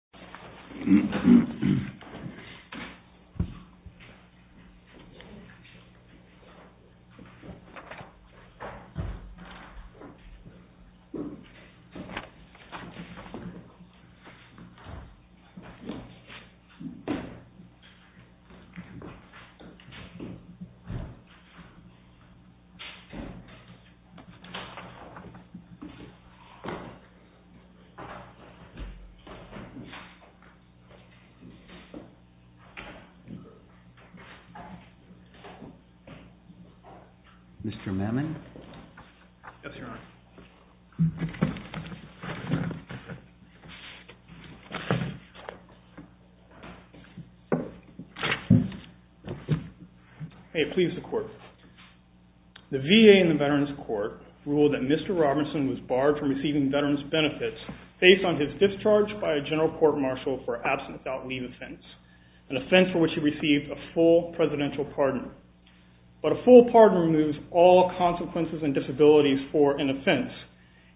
Shinseki is a Japanese temple located in Shinjuku, Tokyo, Japan. Shinseki is a Japanese temple located in Shinjuku, Tokyo, Japan. Shinseki is a Japanese temple located in Shinjuku, Tokyo, Japan. The VA in the Veterans Court ruled that Mr. Robertson was barred from receiving veterans benefits based on his discharge by a general court-martial for absence without leave offense, an offense for which he received a full presidential pardon. But a full pardon removes all consequences and disabilities for an offense,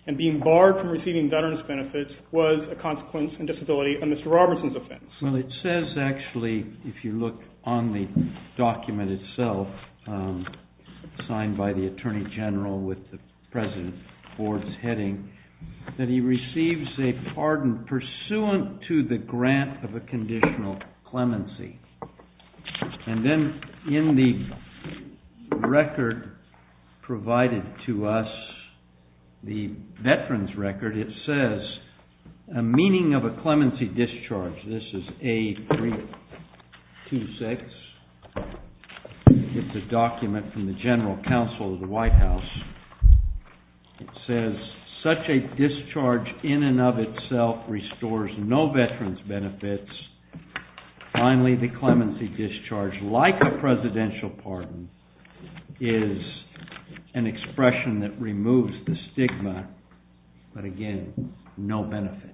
and being barred from receiving veterans benefits was a consequence and disability of Mr. Robertson's offense. Well, it says actually, if you look on the document itself, signed by the Attorney General with the President of the Board's heading, that he receives a pardon pursuant to the grant of a conditional clemency. And then in the record provided to us, the veterans record, it says a meaning of a clemency discharge. This is A326. It's a document from the General Counsel of the White House. It says such a discharge in and of itself restores no veterans benefits. Finally, the clemency discharge, like a presidential pardon, is an expression that removes the stigma, but again, no benefits.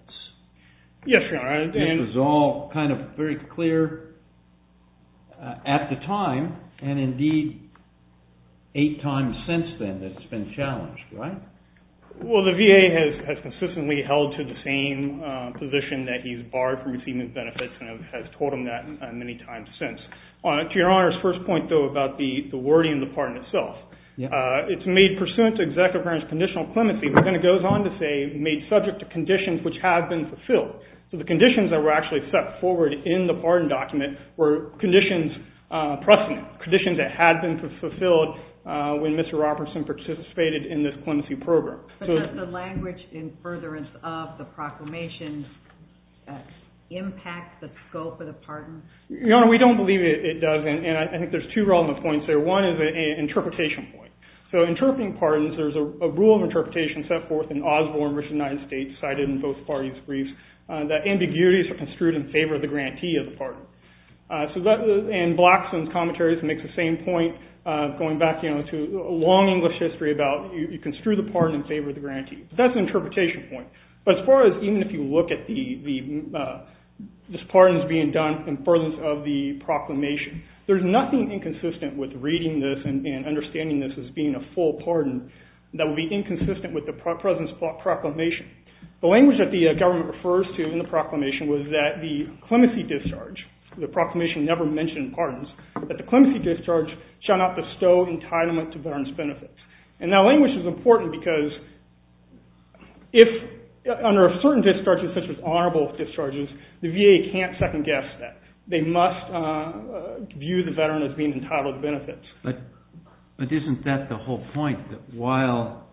Yes, Your Honor. This was all kind of very clear at the time, and indeed eight times since then, that it's been challenged, right? Well, the VA has consistently held to the same position that he's barred from receiving benefits, and has told him that many times since. To Your Honor's first point, though, about the wording of the pardon itself, it's made pursuant to Executive Grants Conditional Clemency, but then it goes on to say, made subject to conditions which have been fulfilled. So the conditions that were actually set forward in the pardon document were conditions precedent, But does the language in furtherance of the proclamation impact the scope of the pardon? Your Honor, we don't believe it does, and I think there's two relevant points there. One is an interpretation point. So interpreting pardons, there's a rule of interpretation set forth in Osborne, which the United States cited in both parties' briefs, that ambiguities are construed in favor of the grantee of the pardon. And Blackstone's commentaries make the same point, going back to a long English history, about you construe the pardon in favor of the grantee. That's an interpretation point. But as far as even if you look at these pardons being done in furtherance of the proclamation, there's nothing inconsistent with reading this and understanding this as being a full pardon that would be inconsistent with the present proclamation. The language that the government refers to in the proclamation was that the clemency discharge, the proclamation never mentioned pardons, but that the clemency discharge shall not bestow entitlement to veterans' benefits. And that language is important because if under certain discharges, such as honorable discharges, the VA can't second-guess that. They must view the veteran as being entitled to benefits. But isn't that the whole point, that while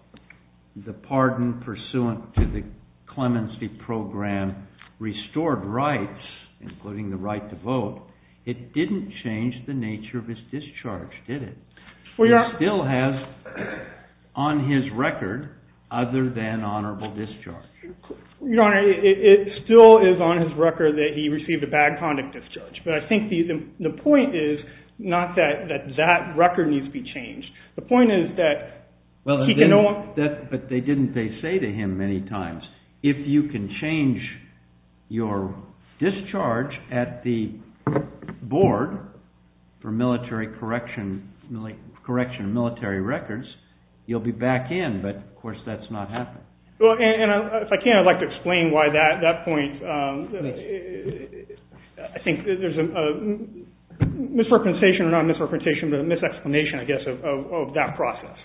the pardon pursuant to the clemency program restored rights, including the right to vote, it didn't change the nature of his discharge, did it? It still has, on his record, other than honorable discharge. Your Honor, it still is on his record that he received a bad conduct discharge. But I think the point is not that that record needs to be changed. But they didn't say to him many times, if you can change your discharge at the board for military correction, correction of military records, you'll be back in. But, of course, that's not happening. If I can, I'd like to explain why that point, I think there's a misrepresentation, not a misrepresentation, but a mis-explanation, I guess, of that process.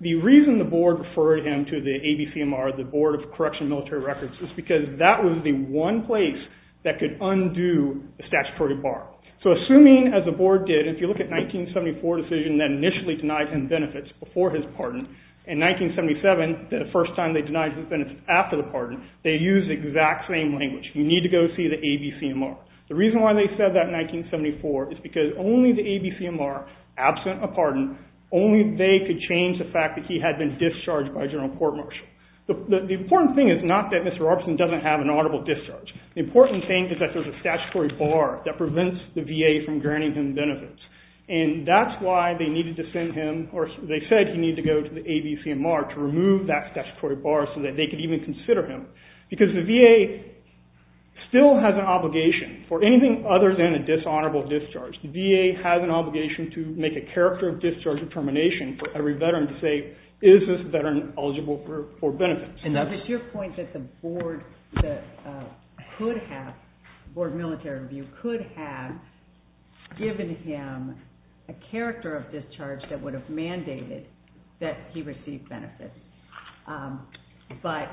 The reason the board referred him to the ABCMR, the Board of Correctional Military Records, is because that was the one place that could undo a statutory bar. So assuming, as the board did, if you look at the 1974 decision that initially denied him benefits before his pardon, in 1977, the first time they denied him benefits after the pardon, they used the exact same language. You need to go see the ABCMR. The reason why they said that in 1974 is because only the ABCMR, absent a pardon, only they could change the fact that he had been discharged by a general court-martial. The important thing is not that Mr. Robertson doesn't have an audible discharge. The important thing is that there's a statutory bar that prevents the VA from granting him benefits. And that's why they needed to send him, or they said he needed to go to the ABCMR, to remove that statutory bar so that they could even consider him. Because the VA still has an obligation for anything other than a dishonorable discharge. The VA has an obligation to make a character of discharge determination for every veteran to say, is this veteran eligible for benefits? And that was your point that the board military review could have given him a character of discharge that would have mandated that he receive benefits. But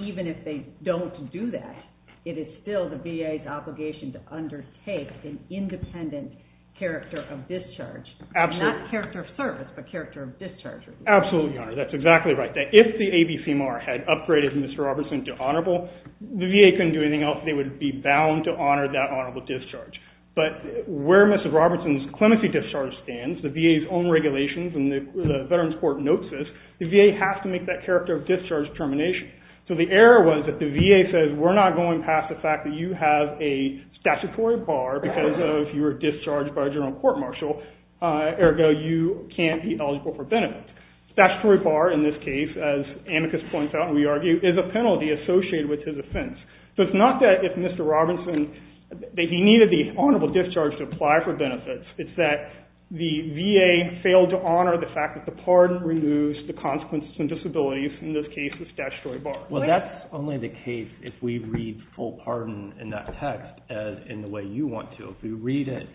even if they don't do that, it is still the VA's obligation to undertake an independent character of discharge. Not character of service, but character of discharge. Absolutely, Your Honor. That's exactly right. If the ABCMR had upgraded Mr. Robertson to honorable, the VA couldn't do anything else. They would be bound to honor that honorable discharge. But where Mr. Robertson's clemency discharge stands, the VA's own regulations, and the Veterans Court notes this, the VA has to make that character of discharge determination. So the error was that the VA says, we're not going past the fact that you have a statutory bar because you were discharged by a general court-martial, ergo you can't be eligible for benefits. Statutory bar, in this case, as Amicus points out and we argue, is a penalty associated with his offense. So it's not that if Mr. Robertson, that he needed the honorable discharge to apply for benefits. It's that the VA failed to honor the fact that the pardon removes the consequences and disabilities, in this case, the statutory bar. Well, that's only the case if we read full pardon in that text in the way you want to. If we read it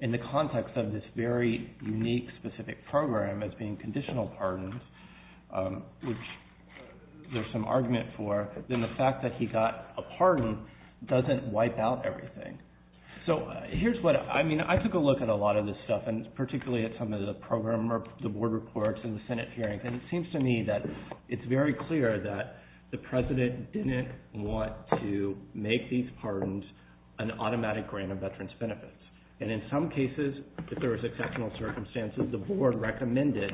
in the context of this very unique, specific program as being conditional pardons, which there's some argument for, then the fact that he got a pardon doesn't wipe out everything. So here's what, I mean, I took a look at a lot of this stuff, and particularly at some of the program or the board reports and the Senate hearings, and it seems to me that it's very clear that the president didn't want to make these pardons an automatic grant of veterans' benefits. And in some cases, if there was exceptional circumstances, the board recommended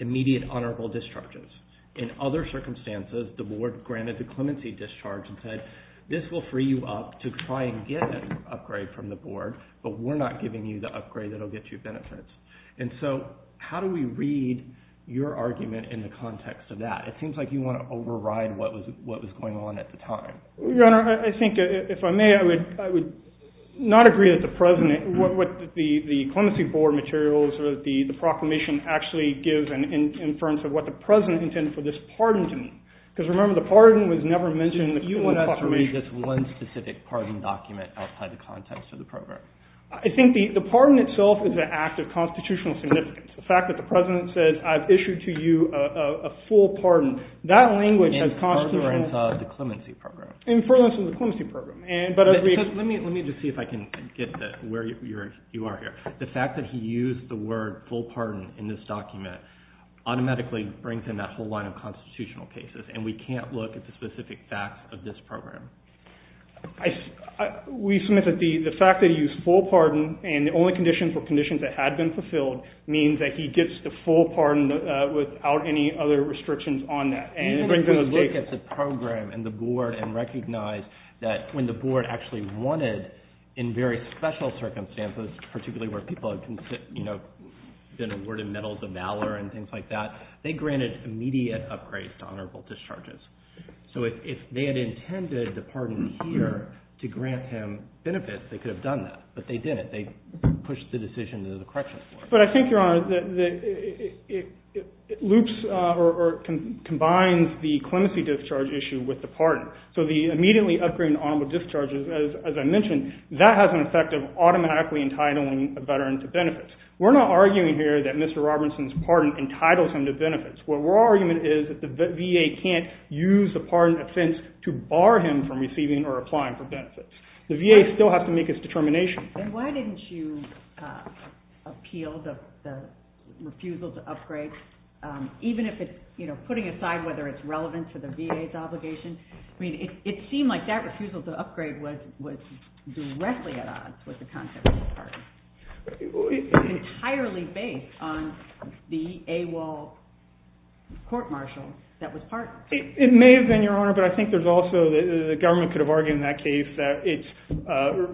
immediate honorable discharges. In other circumstances, the board granted the clemency discharge and said, this will free you up to try and get an upgrade from the board, but we're not giving you the upgrade that will get you benefits. And so how do we read your argument in the context of that? It seems like you want to override what was going on at the time. Your Honor, I think if I may, I would not agree that the president, what the clemency board materials or the proclamation actually gives in terms of what the president intended for this pardon to mean. Because remember, the pardon was never mentioned in the clemency proclamation. But you want us to read this one specific pardon document outside the context of the program. I think the pardon itself is an act of constitutional significance. The fact that the president says, I've issued to you a full pardon, that language has constituted – In furtherance of the clemency program. In furtherance of the clemency program. Let me just see if I can get where you are here. The fact that he used the word full pardon in this document automatically brings in that whole line of constitutional cases. And we can't look at the specific facts of this program. We submit that the fact that he used full pardon, and the only conditions were conditions that had been fulfilled, means that he gets the full pardon without any other restrictions on that. And if we look at the program and the board and recognize that when the board actually wanted in very special circumstances, particularly where people have been awarded medals of valor and things like that, they granted immediate upgrades to honorable discharges. So if they had intended the pardon here to grant him benefits, they could have done that. But they didn't. They pushed the decision to the corrections board. But I think, Your Honor, it loops or combines the clemency discharge issue with the pardon. So the immediately upgraded honorable discharges, as I mentioned, that has an effect of automatically entitling a veteran to benefits. We're not arguing here that Mr. Robinson's pardon entitles him to benefits. What we're arguing is that the VA can't use the pardon offense to bar him from receiving or applying for benefits. The VA still has to make its determination. And why didn't you appeal the refusal to upgrade, even if it's putting aside whether it's relevant to the VA's obligation? It seemed like that refusal to upgrade was directly at odds with the concept of a pardon. It's entirely based on the AWOL court-martial that was pardoned. It may have been, Your Honor, but I think there's also the government could have argued in that case that its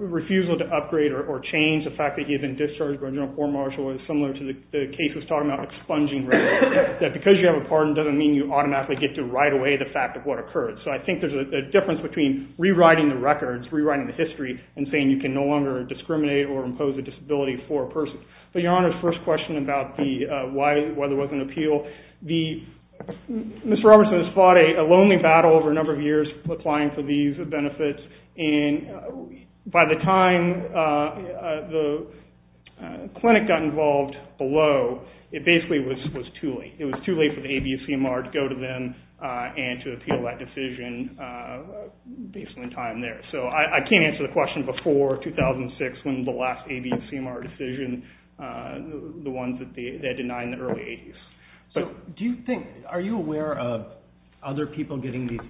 refusal to upgrade or change the fact that he had been discharged by a general court-martial is similar to the case that was taught about expunging records, that because you have a pardon doesn't mean you automatically get to right away the fact of what occurred. So I think there's a difference between rewriting the records, rewriting the history, and saying you can no longer discriminate or impose a disability for a person. But, Your Honor, the first question about why there wasn't an appeal, Mr. Robinson has fought a lonely battle over a number of years applying for these benefits, and by the time the clinic got involved below, it basically was too late. It was too late for the ABCMR to go to them and to appeal that decision, basically in time there. So I can't answer the question before 2006 when the last ABCMR decision, the one that they denied in the early 80s. So do you think, are you aware of other people getting these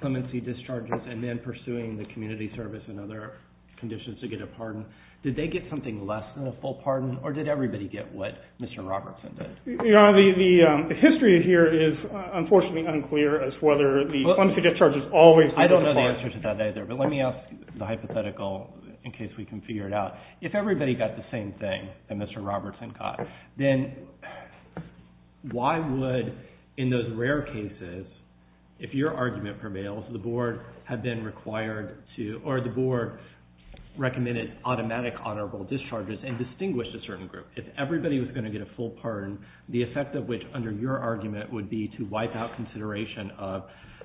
clemency discharges and then pursuing the community service and other conditions to get a pardon? Did they get something less than a full pardon, or did everybody get what Mr. Robinson did? Your Honor, the history here is unfortunately unclear as to whether the clemency discharges always come to the fore. I don't know the answer to that either, but let me ask the hypothetical in case we can figure it out. If everybody got the same thing that Mr. Robinson got, then why would, in those rare cases, if your argument prevails, the Board had been required to, or the Board recommended automatic honorable discharges and distinguished a certain group. If everybody was going to get a full pardon, the effect of which under your argument would be to wipe out consideration of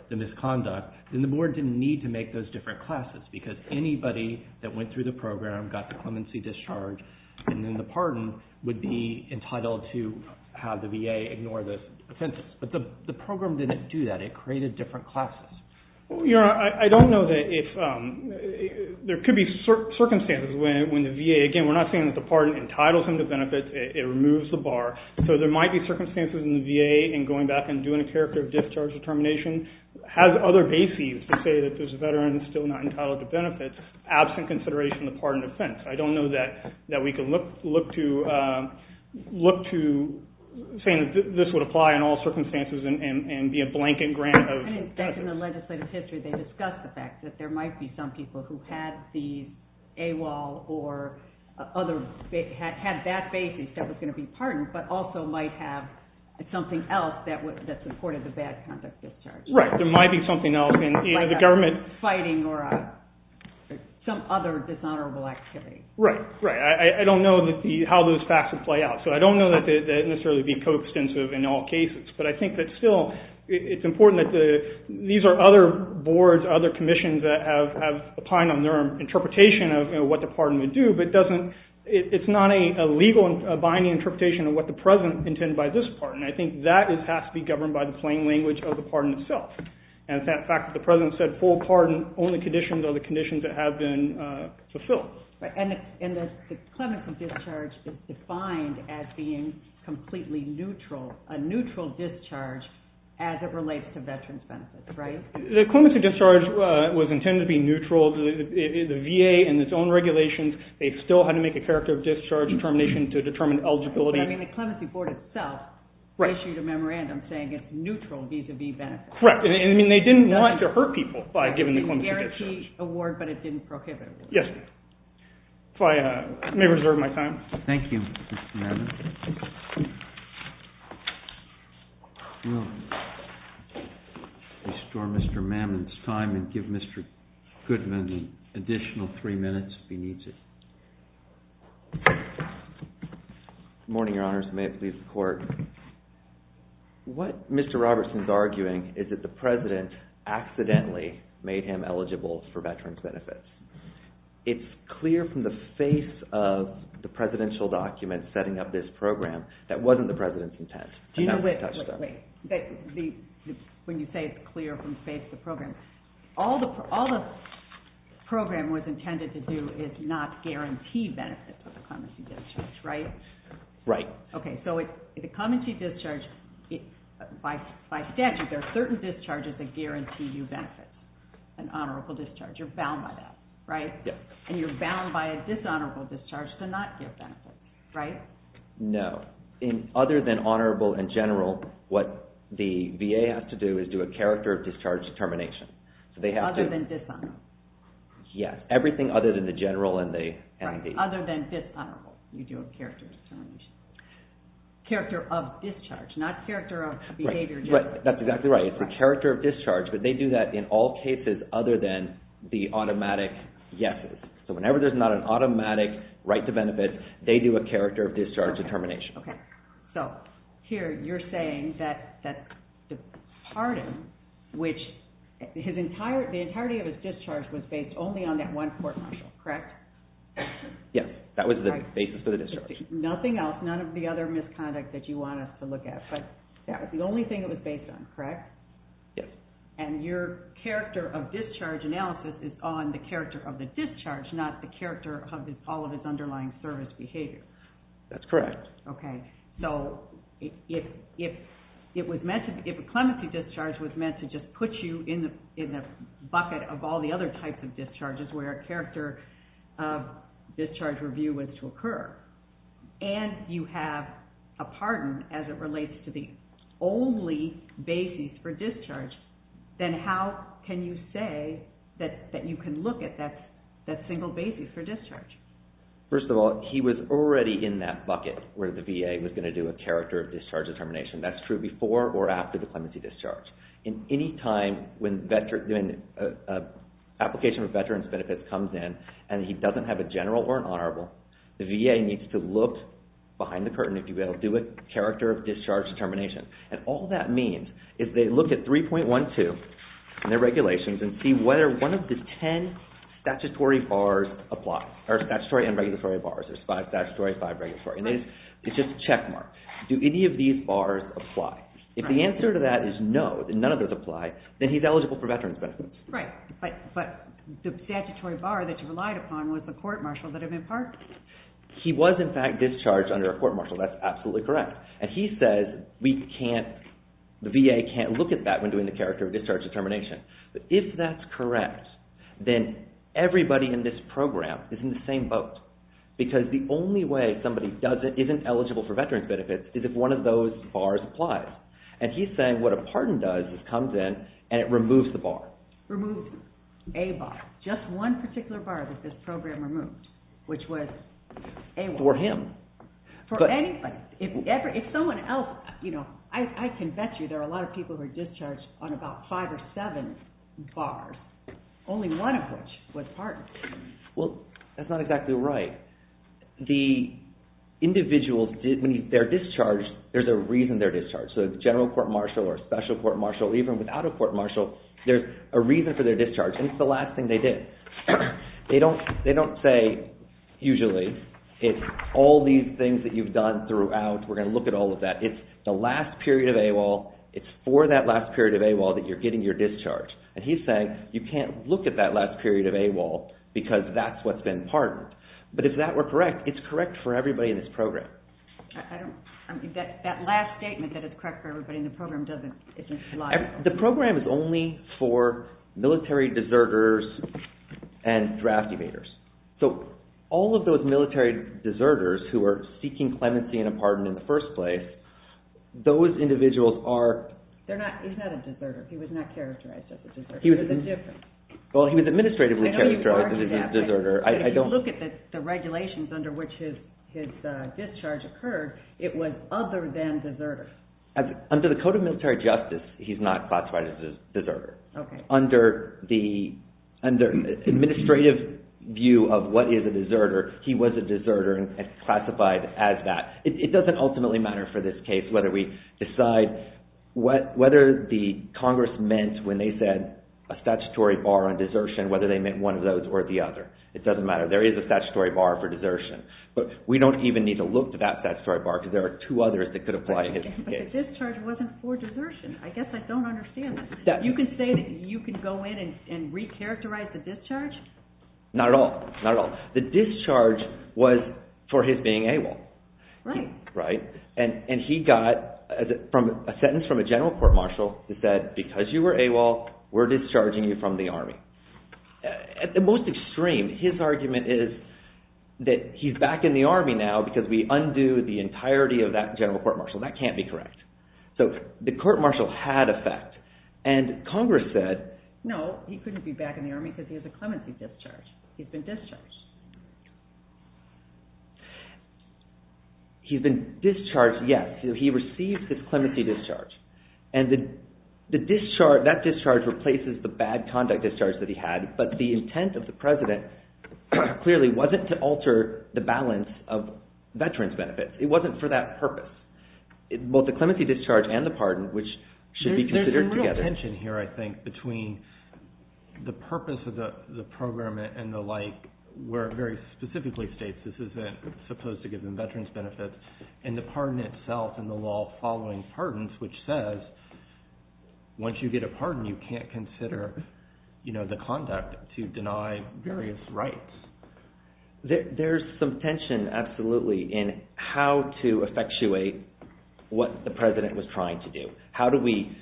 the misconduct, then the Board didn't need to make those different classes because anybody that went through the program, got the clemency discharge, and then the pardon would be entitled to have the VA ignore the offenses. But the program didn't do that. It created different classes. Your Honor, I don't know that if, there could be circumstances when the VA, again, we're not saying that the pardon entitles them to benefits. It removes the bar. So there might be circumstances in the VA in going back and doing a character discharge determination, has other bases to say that there's a veteran still not entitled to benefits absent consideration of the pardon offense. I don't know that we can look to saying that this would apply in all circumstances and be a blanket grant of benefits. In the legislative history, they discussed the fact that there might be some people who had the AWOL or other, had that basis that was going to be pardoned, but also might have something else that supported the bad conduct discharge. Right. There might be something else in the government. Fighting or some other dishonorable activity. Right. Right. I don't know how those facts would play out. So I don't know that it would necessarily be co-extensive in all cases. But I think that still it's important that the, these are other boards, other commissions that have opined on their interpretation of what the pardon would do. But it doesn't, it's not a legal binding interpretation of what the president intended by this pardon. I think that has to be governed by the plain language of the pardon itself. And the fact that the president said full pardon only conditions are the conditions that have been fulfilled. And the clemency discharge is defined as being completely neutral, a neutral discharge as it relates to veterans' benefits, right? The clemency discharge was intended to be neutral. The VA in its own regulations, they still had to make a character discharge determination to determine eligibility. I mean, the clemency board itself issued a memorandum saying it's neutral vis-à-vis benefits. Correct. I mean, they didn't want to hurt people by giving the clemency discharge. It was a guaranteed award, but it didn't prohibit it. Yes, ma'am. If I may reserve my time. Thank you. Mr. Mammon. Restore Mr. Mammon's time and give Mr. Goodman an additional three minutes if he needs it. Good morning, Your Honors. May it please the Court. What Mr. Robertson is arguing is that the president accidentally made him eligible for veterans' benefits. It's clear from the face of the presidential document setting up this program that wasn't the president's intent. Wait, wait, wait. When you say it's clear from the face of the program, all the program was intended to do is not guarantee benefits of the clemency discharge, right? Right. Okay, so the clemency discharge, by statute, there are certain discharges that guarantee you benefits, an honorable discharge. You're bound by that, right? Yes. And you're bound by a dishonorable discharge to not get benefits, right? No. Other than honorable and general, what the VA has to do is do a character of discharge termination. Other than dishonorable? Yes. Everything other than the general and the VA. Right. Other than dishonorable, you do a character of discharge termination. Character of discharge, not character of behavior discharge. Right. That's exactly right. So it's the character of discharge, but they do that in all cases other than the automatic yeses. So whenever there's not an automatic right to benefit, they do a character of discharge determination. Okay. So here you're saying that the pardon, which the entirety of his discharge was based only on that one court-martial, correct? Yes. That was the basis for the discharge. Nothing else, none of the other misconduct that you want us to look at, but that was the only thing it was based on, correct? Yes. And your character of discharge analysis is on the character of the discharge, not the character of all of his underlying service behavior. That's correct. Okay. So if a clemency discharge was meant to just put you in the bucket of all the and you have a pardon as it relates to the only basis for discharge, then how can you say that you can look at that single basis for discharge? First of all, he was already in that bucket where the VA was going to do a character of discharge determination. That's true before or after the clemency discharge. Any time when an application of veterans' benefits comes in and he doesn't have a general or an honorable, the VA needs to look behind the curtain to be able to do a character of discharge determination. And all that means is they look at 3.12 in their regulations and see whether one of the ten statutory bars apply, or statutory and regulatory bars. There's five statutory, five regulatory. It's just a checkmark. Do any of these bars apply? If the answer to that is no, that none of those apply, then he's eligible for veterans' benefits. Right. But the statutory bar that you relied upon was the court-martial that had been pardoned. He was in fact discharged under a court-martial. That's absolutely correct. And he says the VA can't look at that when doing the character of discharge determination. If that's correct, then everybody in this program is in the same boat because the only way somebody isn't eligible for veterans' benefits is if one of those bars applies. And he's saying what a pardon does is comes in and it removes the bar. Removed a bar. Just one particular bar that this program removed, which was a bar. For him. For anybody. If someone else, you know, I can bet you there are a lot of people who are discharged on about five or seven bars, only one of which was pardoned. Well, that's not exactly right. The individuals, when they're discharged, there's a reason they're discharged. So a general court-martial or a special court-martial, even without a court-martial, there's a reason for their discharge. And it's the last thing they did. They don't say usually it's all these things that you've done throughout. We're going to look at all of that. It's the last period of AWOL. It's for that last period of AWOL that you're getting your discharge. And he's saying you can't look at that last period of AWOL because that's what's been pardoned. But if that were correct, it's correct for everybody in this program. That last statement that it's correct for everybody in the program isn't logical. The program is only for military deserters and draft evaders. So all of those military deserters who are seeking clemency and a pardon in the first place, those individuals are... He's not a deserter. He was not characterized as a deserter. He was administratively characterized as a deserter. But if you look at the regulations under which his discharge occurred, it was other than deserter. Under the Code of Military Justice, he's not classified as a deserter. Under the administrative view of what is a deserter, he was a deserter and classified as that. It doesn't ultimately matter for this case whether we decide whether the Congress meant when they said a statutory bar on desertion, whether they meant one of those or the other. It doesn't matter. There is a statutory bar for desertion. But we don't even need to look at that statutory bar because there are two others that could apply to this case. But the discharge wasn't for desertion. I guess I don't understand that. You can say that you can go in and recharacterize the discharge? Not at all. Not at all. The discharge was for his being AWOL. Right. Right. And he got a sentence from a general court marshal that said, because you were AWOL, we're discharging you from the Army. At the most extreme, his argument is that he's back in the Army now because we undo the entirety of that general court marshal. That can't be correct. So the court marshal had effect. And Congress said, no, he couldn't be back in the Army because he has a clemency discharge. He's been discharged. He's been discharged, yes. He received his clemency discharge. And that discharge replaces the bad conduct discharge that he had, but the intent of the President clearly wasn't to alter the balance of veterans' benefits. It wasn't for that purpose. Both the clemency discharge and the pardon, which should be considered together. There's some real tension here, I think, between the purpose of the program and the like, where it very specifically states this isn't supposed to give them veterans' benefits, and the pardon itself and the law following pardons, which says once you get a pardon, you can't consider the conduct to deny various rights. There's some tension, absolutely, in how to effectuate what the President was trying to do. How do we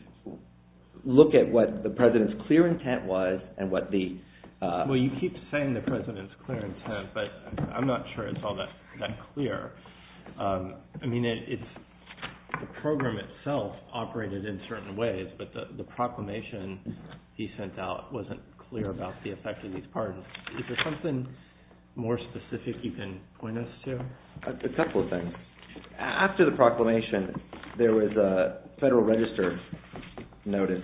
look at what the President's clear intent was and what the— Well, you keep saying the President's clear intent, but I'm not sure it's all that clear. I mean, the program itself operated in certain ways, but the proclamation he sent out wasn't clear about the effect of these pardons. Is there something more specific you can point us to? A couple of things. After the proclamation, there was a Federal Register notice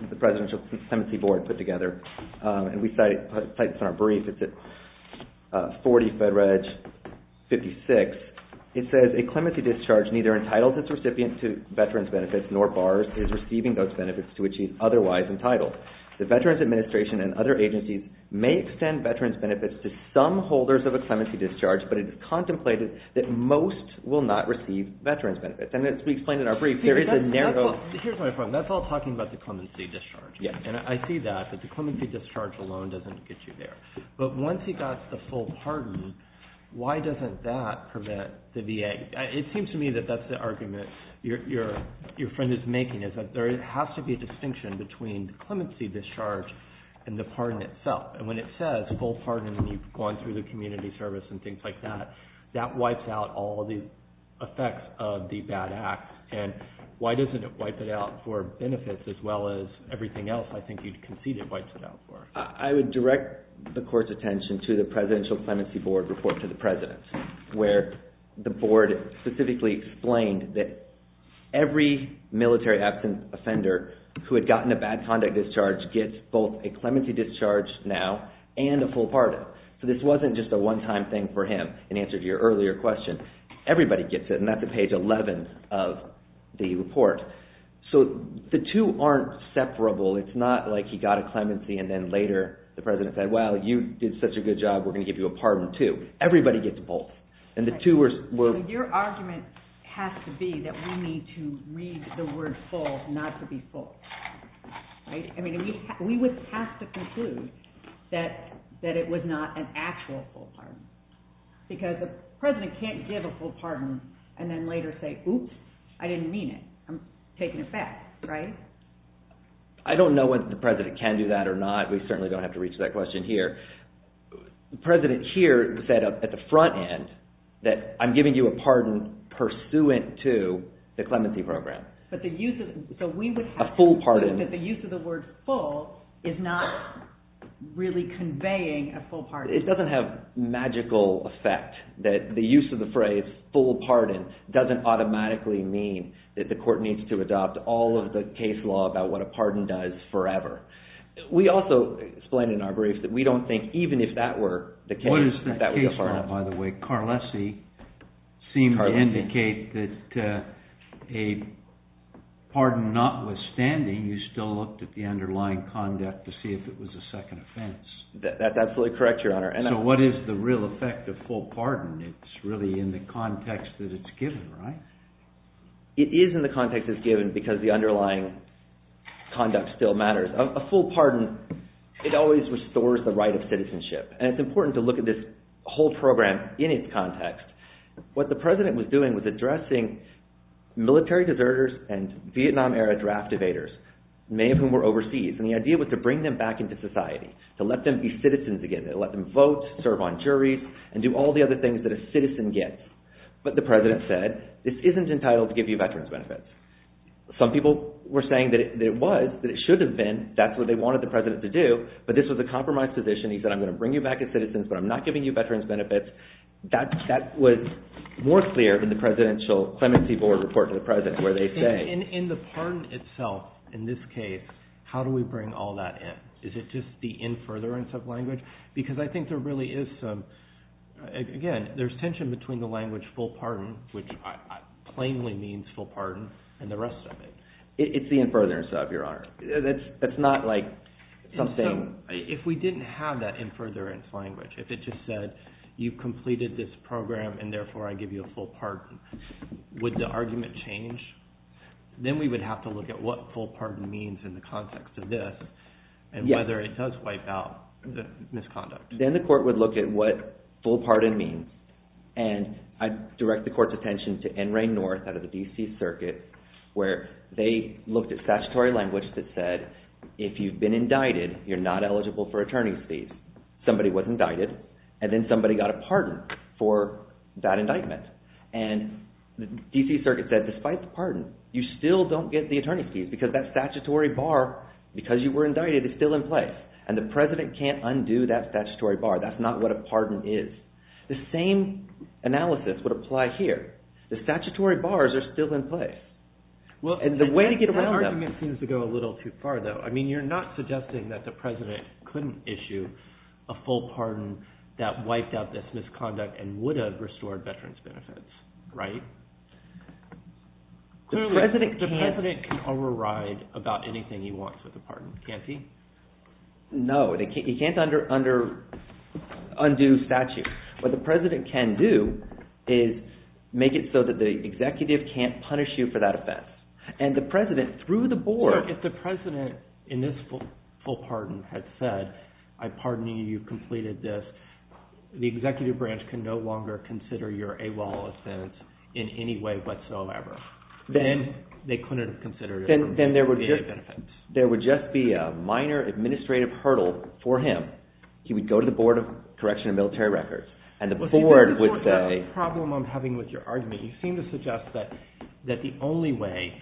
that the Presidential Clemency Board put together, and we cite this in our brief. It's at 40 FedReg 56. It says a clemency discharge neither entitles its recipient to veterans' benefits nor bars his receiving those benefits to which he is otherwise entitled. The Veterans Administration and other agencies may extend veterans' benefits to some holders of a clemency discharge, but it is contemplated that most will not receive veterans' benefits. And as we explained in our brief, there is a narrow— Here's my problem. That's all talking about the clemency discharge. Yes. And I see that, that the clemency discharge alone doesn't get you there. But once he got the full pardon, why doesn't that prevent the VA? It seems to me that that's the argument your friend is making, is that there has to be a distinction between the clemency discharge and the pardon itself. And when it says full pardon and you've gone through the community service and things like that, that wipes out all the effects of the bad act. And why doesn't it wipe it out for benefits as well as everything else I think you'd concede it wipes it out for? I would direct the Court's attention to the Presidential Clemency Board report to the President where the Board specifically explained that every military absence offender who had gotten a bad conduct discharge gets both a clemency discharge now and a full pardon. So this wasn't just a one-time thing for him in answer to your earlier question. Everybody gets it, and that's on page 11 of the report. So the two aren't separable. It's not like he got a clemency and then later the President said, well, you did such a good job, we're going to give you a pardon too. Everybody gets both. Your argument has to be that we need to read the word full not to be fooled. Because the President can't give a full pardon and then later say, oops, I didn't mean it. I'm taking it back, right? I don't know whether the President can do that or not. We certainly don't have to reach that question here. The President here said at the front end that I'm giving you a pardon pursuant to the clemency program. So we would have to assume that the use of the word full is not really conveying a full pardon. It doesn't have magical effect that the use of the phrase full pardon doesn't automatically mean that the court needs to adopt all of the case law about what a pardon does forever. We also explained in our briefs that we don't think even if that were the case, that would be a pardon. What is the case law, by the way? Carlesi seemed to indicate that a pardon notwithstanding, you still looked at the underlying conduct to see if it was a second offense. That's absolutely correct, Your Honor. So what is the real effect of full pardon? It's really in the context that it's given, right? It is in the context it's given because the underlying conduct still matters. A full pardon, it always restores the right of citizenship. And it's important to look at this whole program in its context. What the President was doing was addressing military deserters and Vietnam era draft evaders, many of whom were overseas. And the idea was to bring them back into society, to let them be citizens again, to let them vote, serve on juries, and do all the other things that a citizen gets. But the President said, this isn't entitled to give you veterans benefits. Some people were saying that it was, that it should have been. That's what they wanted the President to do. But this was a compromise position. He said, I'm going to bring you back as citizens, but I'm not giving you veterans benefits. That was more clear than the Presidential Clemency Board report to the President where they say. In the pardon itself, in this case, how do we bring all that in? Is it just the in furtherance of language? Because I think there really is some, again, there's tension between the language full pardon, which plainly means full pardon, and the rest of it. It's the in furtherance of, Your Honor. That's not like something. If we didn't have that in furtherance language, if it just said, you've completed this program and therefore I give you a full pardon, would the argument change? Then we would have to look at what full pardon means in the context of this and whether it does wipe out the misconduct. Then the court would look at what full pardon means, and I direct the court's attention to NRA North out of the D.C. Circuit where they looked at statutory language that said, if you've been indicted, you're not eligible for attorney's fees. Somebody was indicted, and then somebody got a pardon for that indictment, and the D.C. Circuit said, despite the pardon, you still don't get the attorney's fees because that statutory bar, because you were indicted, is still in place, and the president can't undo that statutory bar. That's not what a pardon is. The same analysis would apply here. The statutory bars are still in place, and the way to get around them. That argument seems to go a little too far, though. I mean, you're not suggesting that the president couldn't issue a full pardon that wiped out this misconduct and would have restored veterans' benefits, right? The president can override about anything he wants with a pardon, can't he? No, he can't undo statute. What the president can do is make it so that the executive can't punish you for that offense. And the president, through the board. If the president, in this full pardon, had said, I pardon you, you've completed this, the executive branch can no longer consider your AWOL offense in any way whatsoever. Then they couldn't have considered it for VA benefits. Then there would just be a minor administrative hurdle for him. He would go to the Board of Correctional and Military Records, and the board would say. That's the problem I'm having with your argument. You seem to suggest that the only way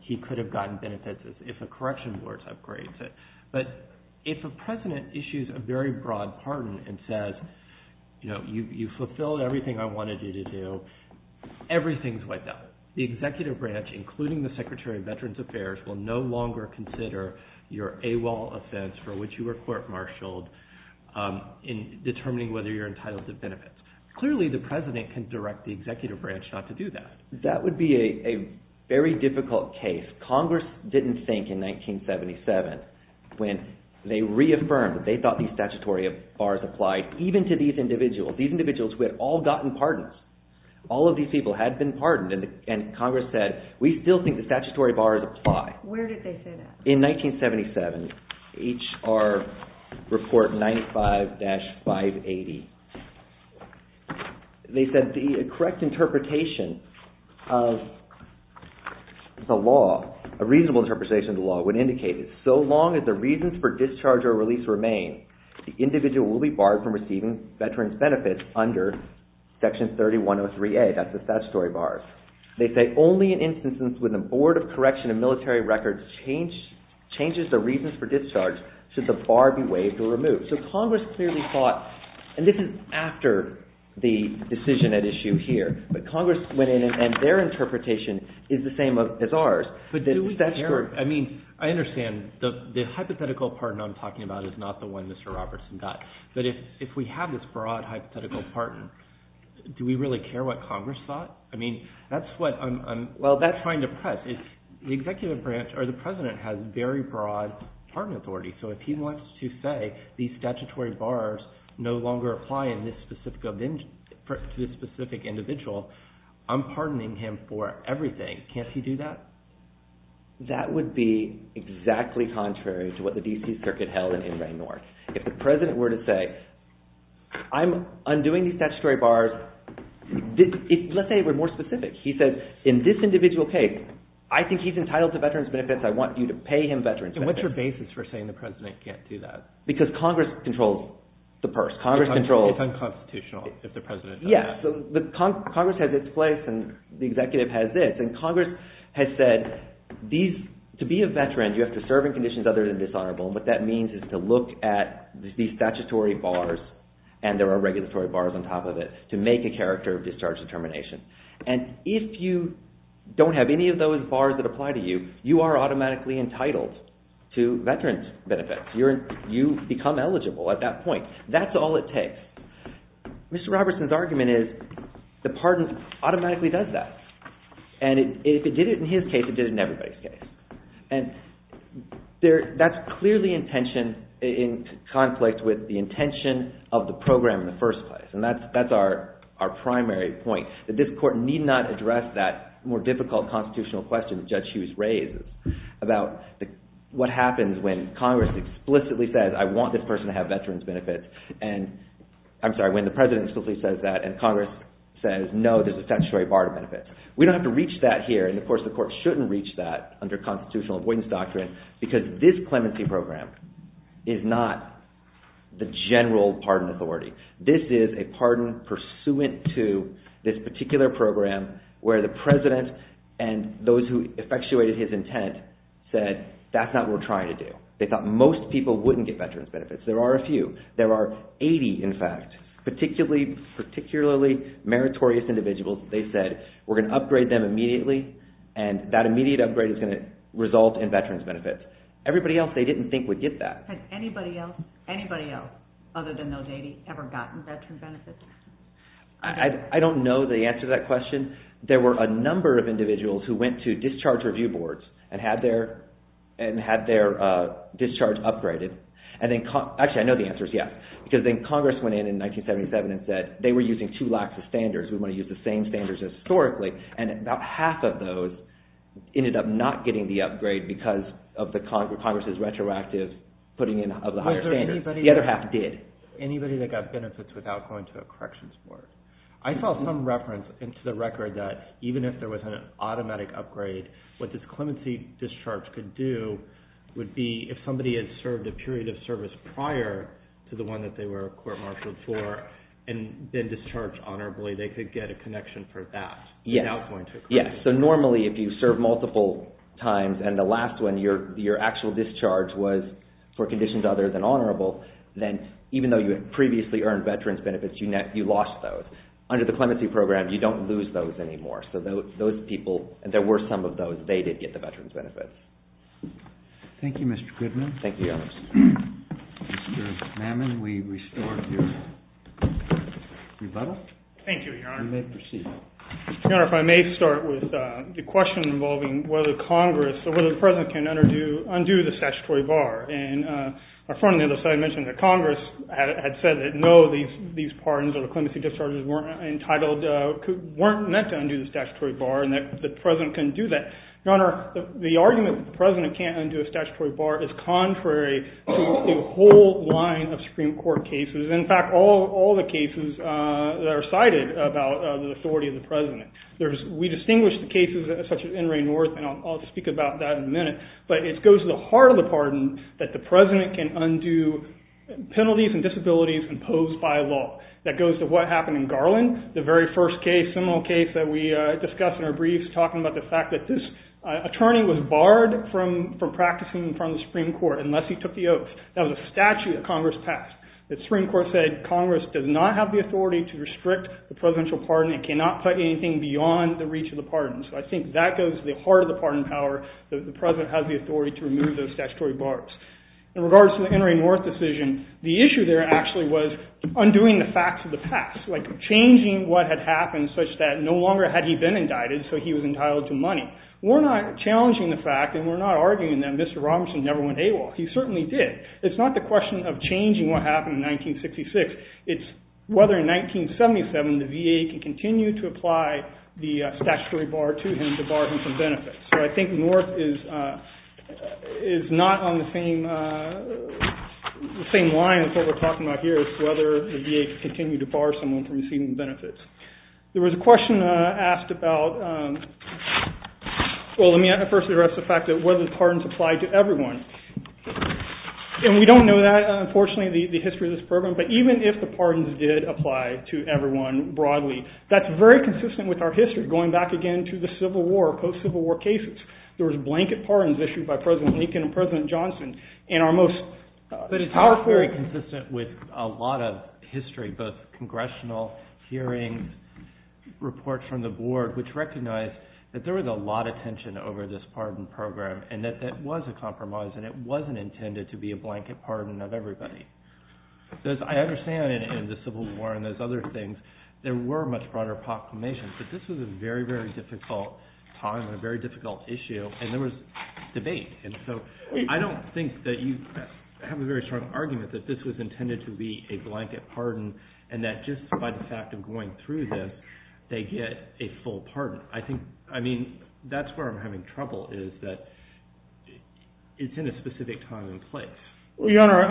he could have gotten benefits is if a correction board upgrades it. But if a president issues a very broad pardon and says, you fulfilled everything I wanted you to do, everything's wiped out. The executive branch, including the Secretary of Veterans Affairs, will no longer consider your AWOL offense for which you were court-martialed in determining whether you're entitled to benefits. Clearly, the president can direct the executive branch not to do that. That would be a very difficult case. Congress didn't think in 1977, when they reaffirmed that they thought these statutory bars applied, even to these individuals, these individuals who had all gotten pardons. All of these people had been pardoned, and Congress said, we still think the statutory bars apply. Where did they say that? In 1977, H.R. Report 95-580, they said the correct interpretation of the law, a reasonable interpretation of the law, would indicate that so long as the reasons for discharge or release remain, the individual will be barred from receiving veterans' benefits under Section 3103A. That's the statutory bars. They say only in instances when the Board of Correction and Military Records changes the reasons for discharge should the bar be waived or removed. So Congress clearly thought, and this is after the decision at issue here, but Congress went in and their interpretation is the same as ours. But do we care? I mean, I understand the hypothetical pardon I'm talking about is not the one Mr. Robertson got, but if we have this broad hypothetical pardon, do we really care what Congress thought? I mean, that's what I'm trying to press. The Executive Branch or the President has very broad pardon authority, so if he wants to say these statutory bars no longer apply to this specific individual, I'm pardoning him for everything. Can't he do that? That would be exactly contrary to what the D.C. Circuit held in Inverne North. If the President were to say, I'm undoing these statutory bars. Let's say it were more specific. He says, in this individual case, I think he's entitled to veterans' benefits. I want you to pay him veterans' benefits. And what's your basis for saying the President can't do that? Because Congress controls the purse. It's unconstitutional if the President does that. Yes, but Congress has its place and the Executive has this. And Congress has said, to be a veteran, you have to serve in conditions other than dishonorable. And what that means is to look at these statutory bars, and there are regulatory bars on top of it, to make a character of discharge determination. And if you don't have any of those bars that apply to you, you are automatically entitled to veterans' benefits. You become eligible at that point. That's all it takes. Mr. Robertson's argument is the pardon automatically does that. And if it did it in his case, it did it in everybody's case. And that's clearly in conflict with the intention of the program in the first place. And that's our primary point, that this Court need not address that more difficult constitutional question that Judge Hughes raises about what happens when Congress explicitly says, I want this person to have veterans' benefits. And I'm sorry, when the President explicitly says that, and Congress says, no, there's a statutory bar to benefit. We don't have to reach that here, and of course the Court shouldn't reach that under constitutional avoidance doctrine, because this clemency program is not the general pardon authority. This is a pardon pursuant to this particular program where the President and those who effectuated his intent said, that's not what we're trying to do. They thought most people wouldn't get veterans' benefits. There are a few. There are 80, in fact, particularly meritorious individuals. They said, we're going to upgrade them immediately, and that immediate upgrade is going to result in veterans' benefits. Everybody else, they didn't think, would get that. Had anybody else, other than Nodady, ever gotten veterans' benefits? I don't know the answer to that question. There were a number of individuals who went to discharge review boards and had their discharge upgraded. Actually, I know the answer is yes, because then Congress went in in 1977 and said, they were using two lax standards. We want to use the same standards historically, and about half of those ended up not getting the upgrade because of Congress's retroactive putting in of the higher standards. The other half did. Anybody that got benefits without going to a corrections board? I saw some reference into the record that even if there was an automatic upgrade, what this clemency discharge could do would be if somebody had served a period of service prior to the one that they were court-martialed for, and then discharged honorably, they could get a connection for that without going to a corrections board. Yes, so normally if you serve multiple times, and the last one, your actual discharge was for conditions other than honorable, then even though you had previously earned veterans' benefits, you lost those. Under the clemency program, you don't lose those anymore. So those people, there were some of those, they did get the veterans' benefits. Thank you, Mr. Goodman. Thank you. Mr. Mamman, we restore your rebuttal. Thank you, Your Honor. You may proceed. Your Honor, if I may start with the question involving whether Congress, so whether the President can undo the statutory bar. And my friend on the other side mentioned that Congress had said that no, these pardons or the clemency discharges weren't meant to undo the statutory bar and that the President can do that. Your Honor, the argument that the President can't undo a statutory bar is contrary to a whole line of Supreme Court cases. In fact, all the cases that are cited about the authority of the President. We distinguish the cases such as NRA North, and I'll speak about that in a minute, but it goes to the heart of the pardon that the President can undo penalties and disabilities imposed by law. That goes to what happened in Garland, the very first case, criminal case that we discussed in our briefs talking about the fact that this attorney was barred from practicing in front of the Supreme Court unless he took the oath. That was a statute that Congress passed. The Supreme Court said Congress does not have the authority to restrict the presidential pardon. It cannot put anything beyond the reach of the pardon. So I think that goes to the heart of the pardon power, that the President has the authority to remove those statutory bars. In regards to the NRA North decision, the issue there actually was undoing the facts of the past, like changing what had happened such that no longer had he been indicted, so he was entitled to money. We're not challenging the fact, and we're not arguing that Mr. Robinson never went AWOL. He certainly did. It's not the question of changing what happened in 1966. It's whether in 1977 the VA can continue to apply the statutory bar to him to bar him from benefits. So I think North is not on the same line as what we're talking about here, whether the VA can continue to bar someone from receiving benefits. There was a question asked about – well, let me first address the fact that whether the pardons apply to everyone. And we don't know that, unfortunately, the history of this program. But even if the pardons did apply to everyone broadly, that's very consistent with our history, going back again to the Civil War, post-Civil War cases. There was blanket pardons issued by President Lincoln and President Johnson. But it's very consistent with a lot of history, both congressional hearings, reports from the board, which recognized that there was a lot of tension over this pardon program and that that was a compromise and it wasn't intended to be a blanket pardon of everybody. I understand in the Civil War and those other things there were much broader proclamations, but this was a very, very difficult time and a very difficult issue, and there was debate. And so I don't think that you have a very strong argument that this was intended to be a blanket pardon and that just by the fact of going through this they get a full pardon. I think – I mean that's where I'm having trouble is that it's in a specific time and place. Well, Your Honor,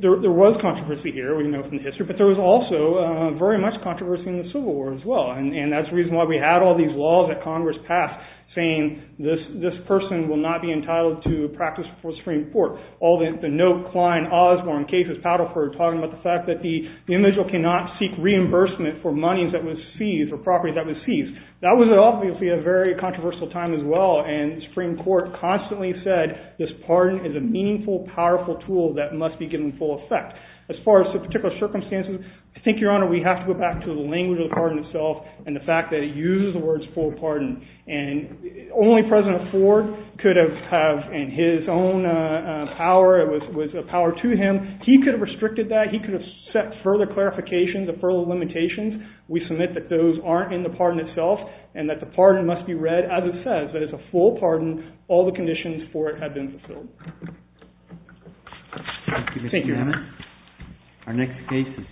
there was controversy here. We know from history. But there was also very much controversy in the Civil War as well. And that's the reason why we had all these laws that Congress passed saying this person will not be entitled to practice before the Supreme Court. All the note, Klein, Osborne, Cages, Paddleford, talking about the fact that the individual cannot seek reimbursement for monies that was seized or property that was seized. That was obviously a very controversial time as well, and the Supreme Court constantly said this pardon is a meaningful, powerful tool that must be given full effect. As far as the particular circumstances, I think, Your Honor, we have to go back to the language of the pardon itself and the fact that it uses the words full pardon. And only President Ford could have had in his own power, it was a power to him. He could have restricted that. He could have set further clarifications and further limitations. We submit that those aren't in the pardon itself and that the pardon must be read as it says, that it's a full pardon. All the conditions for it have been fulfilled. Thank you, Mr. Hammond. Thank you, Your Honor.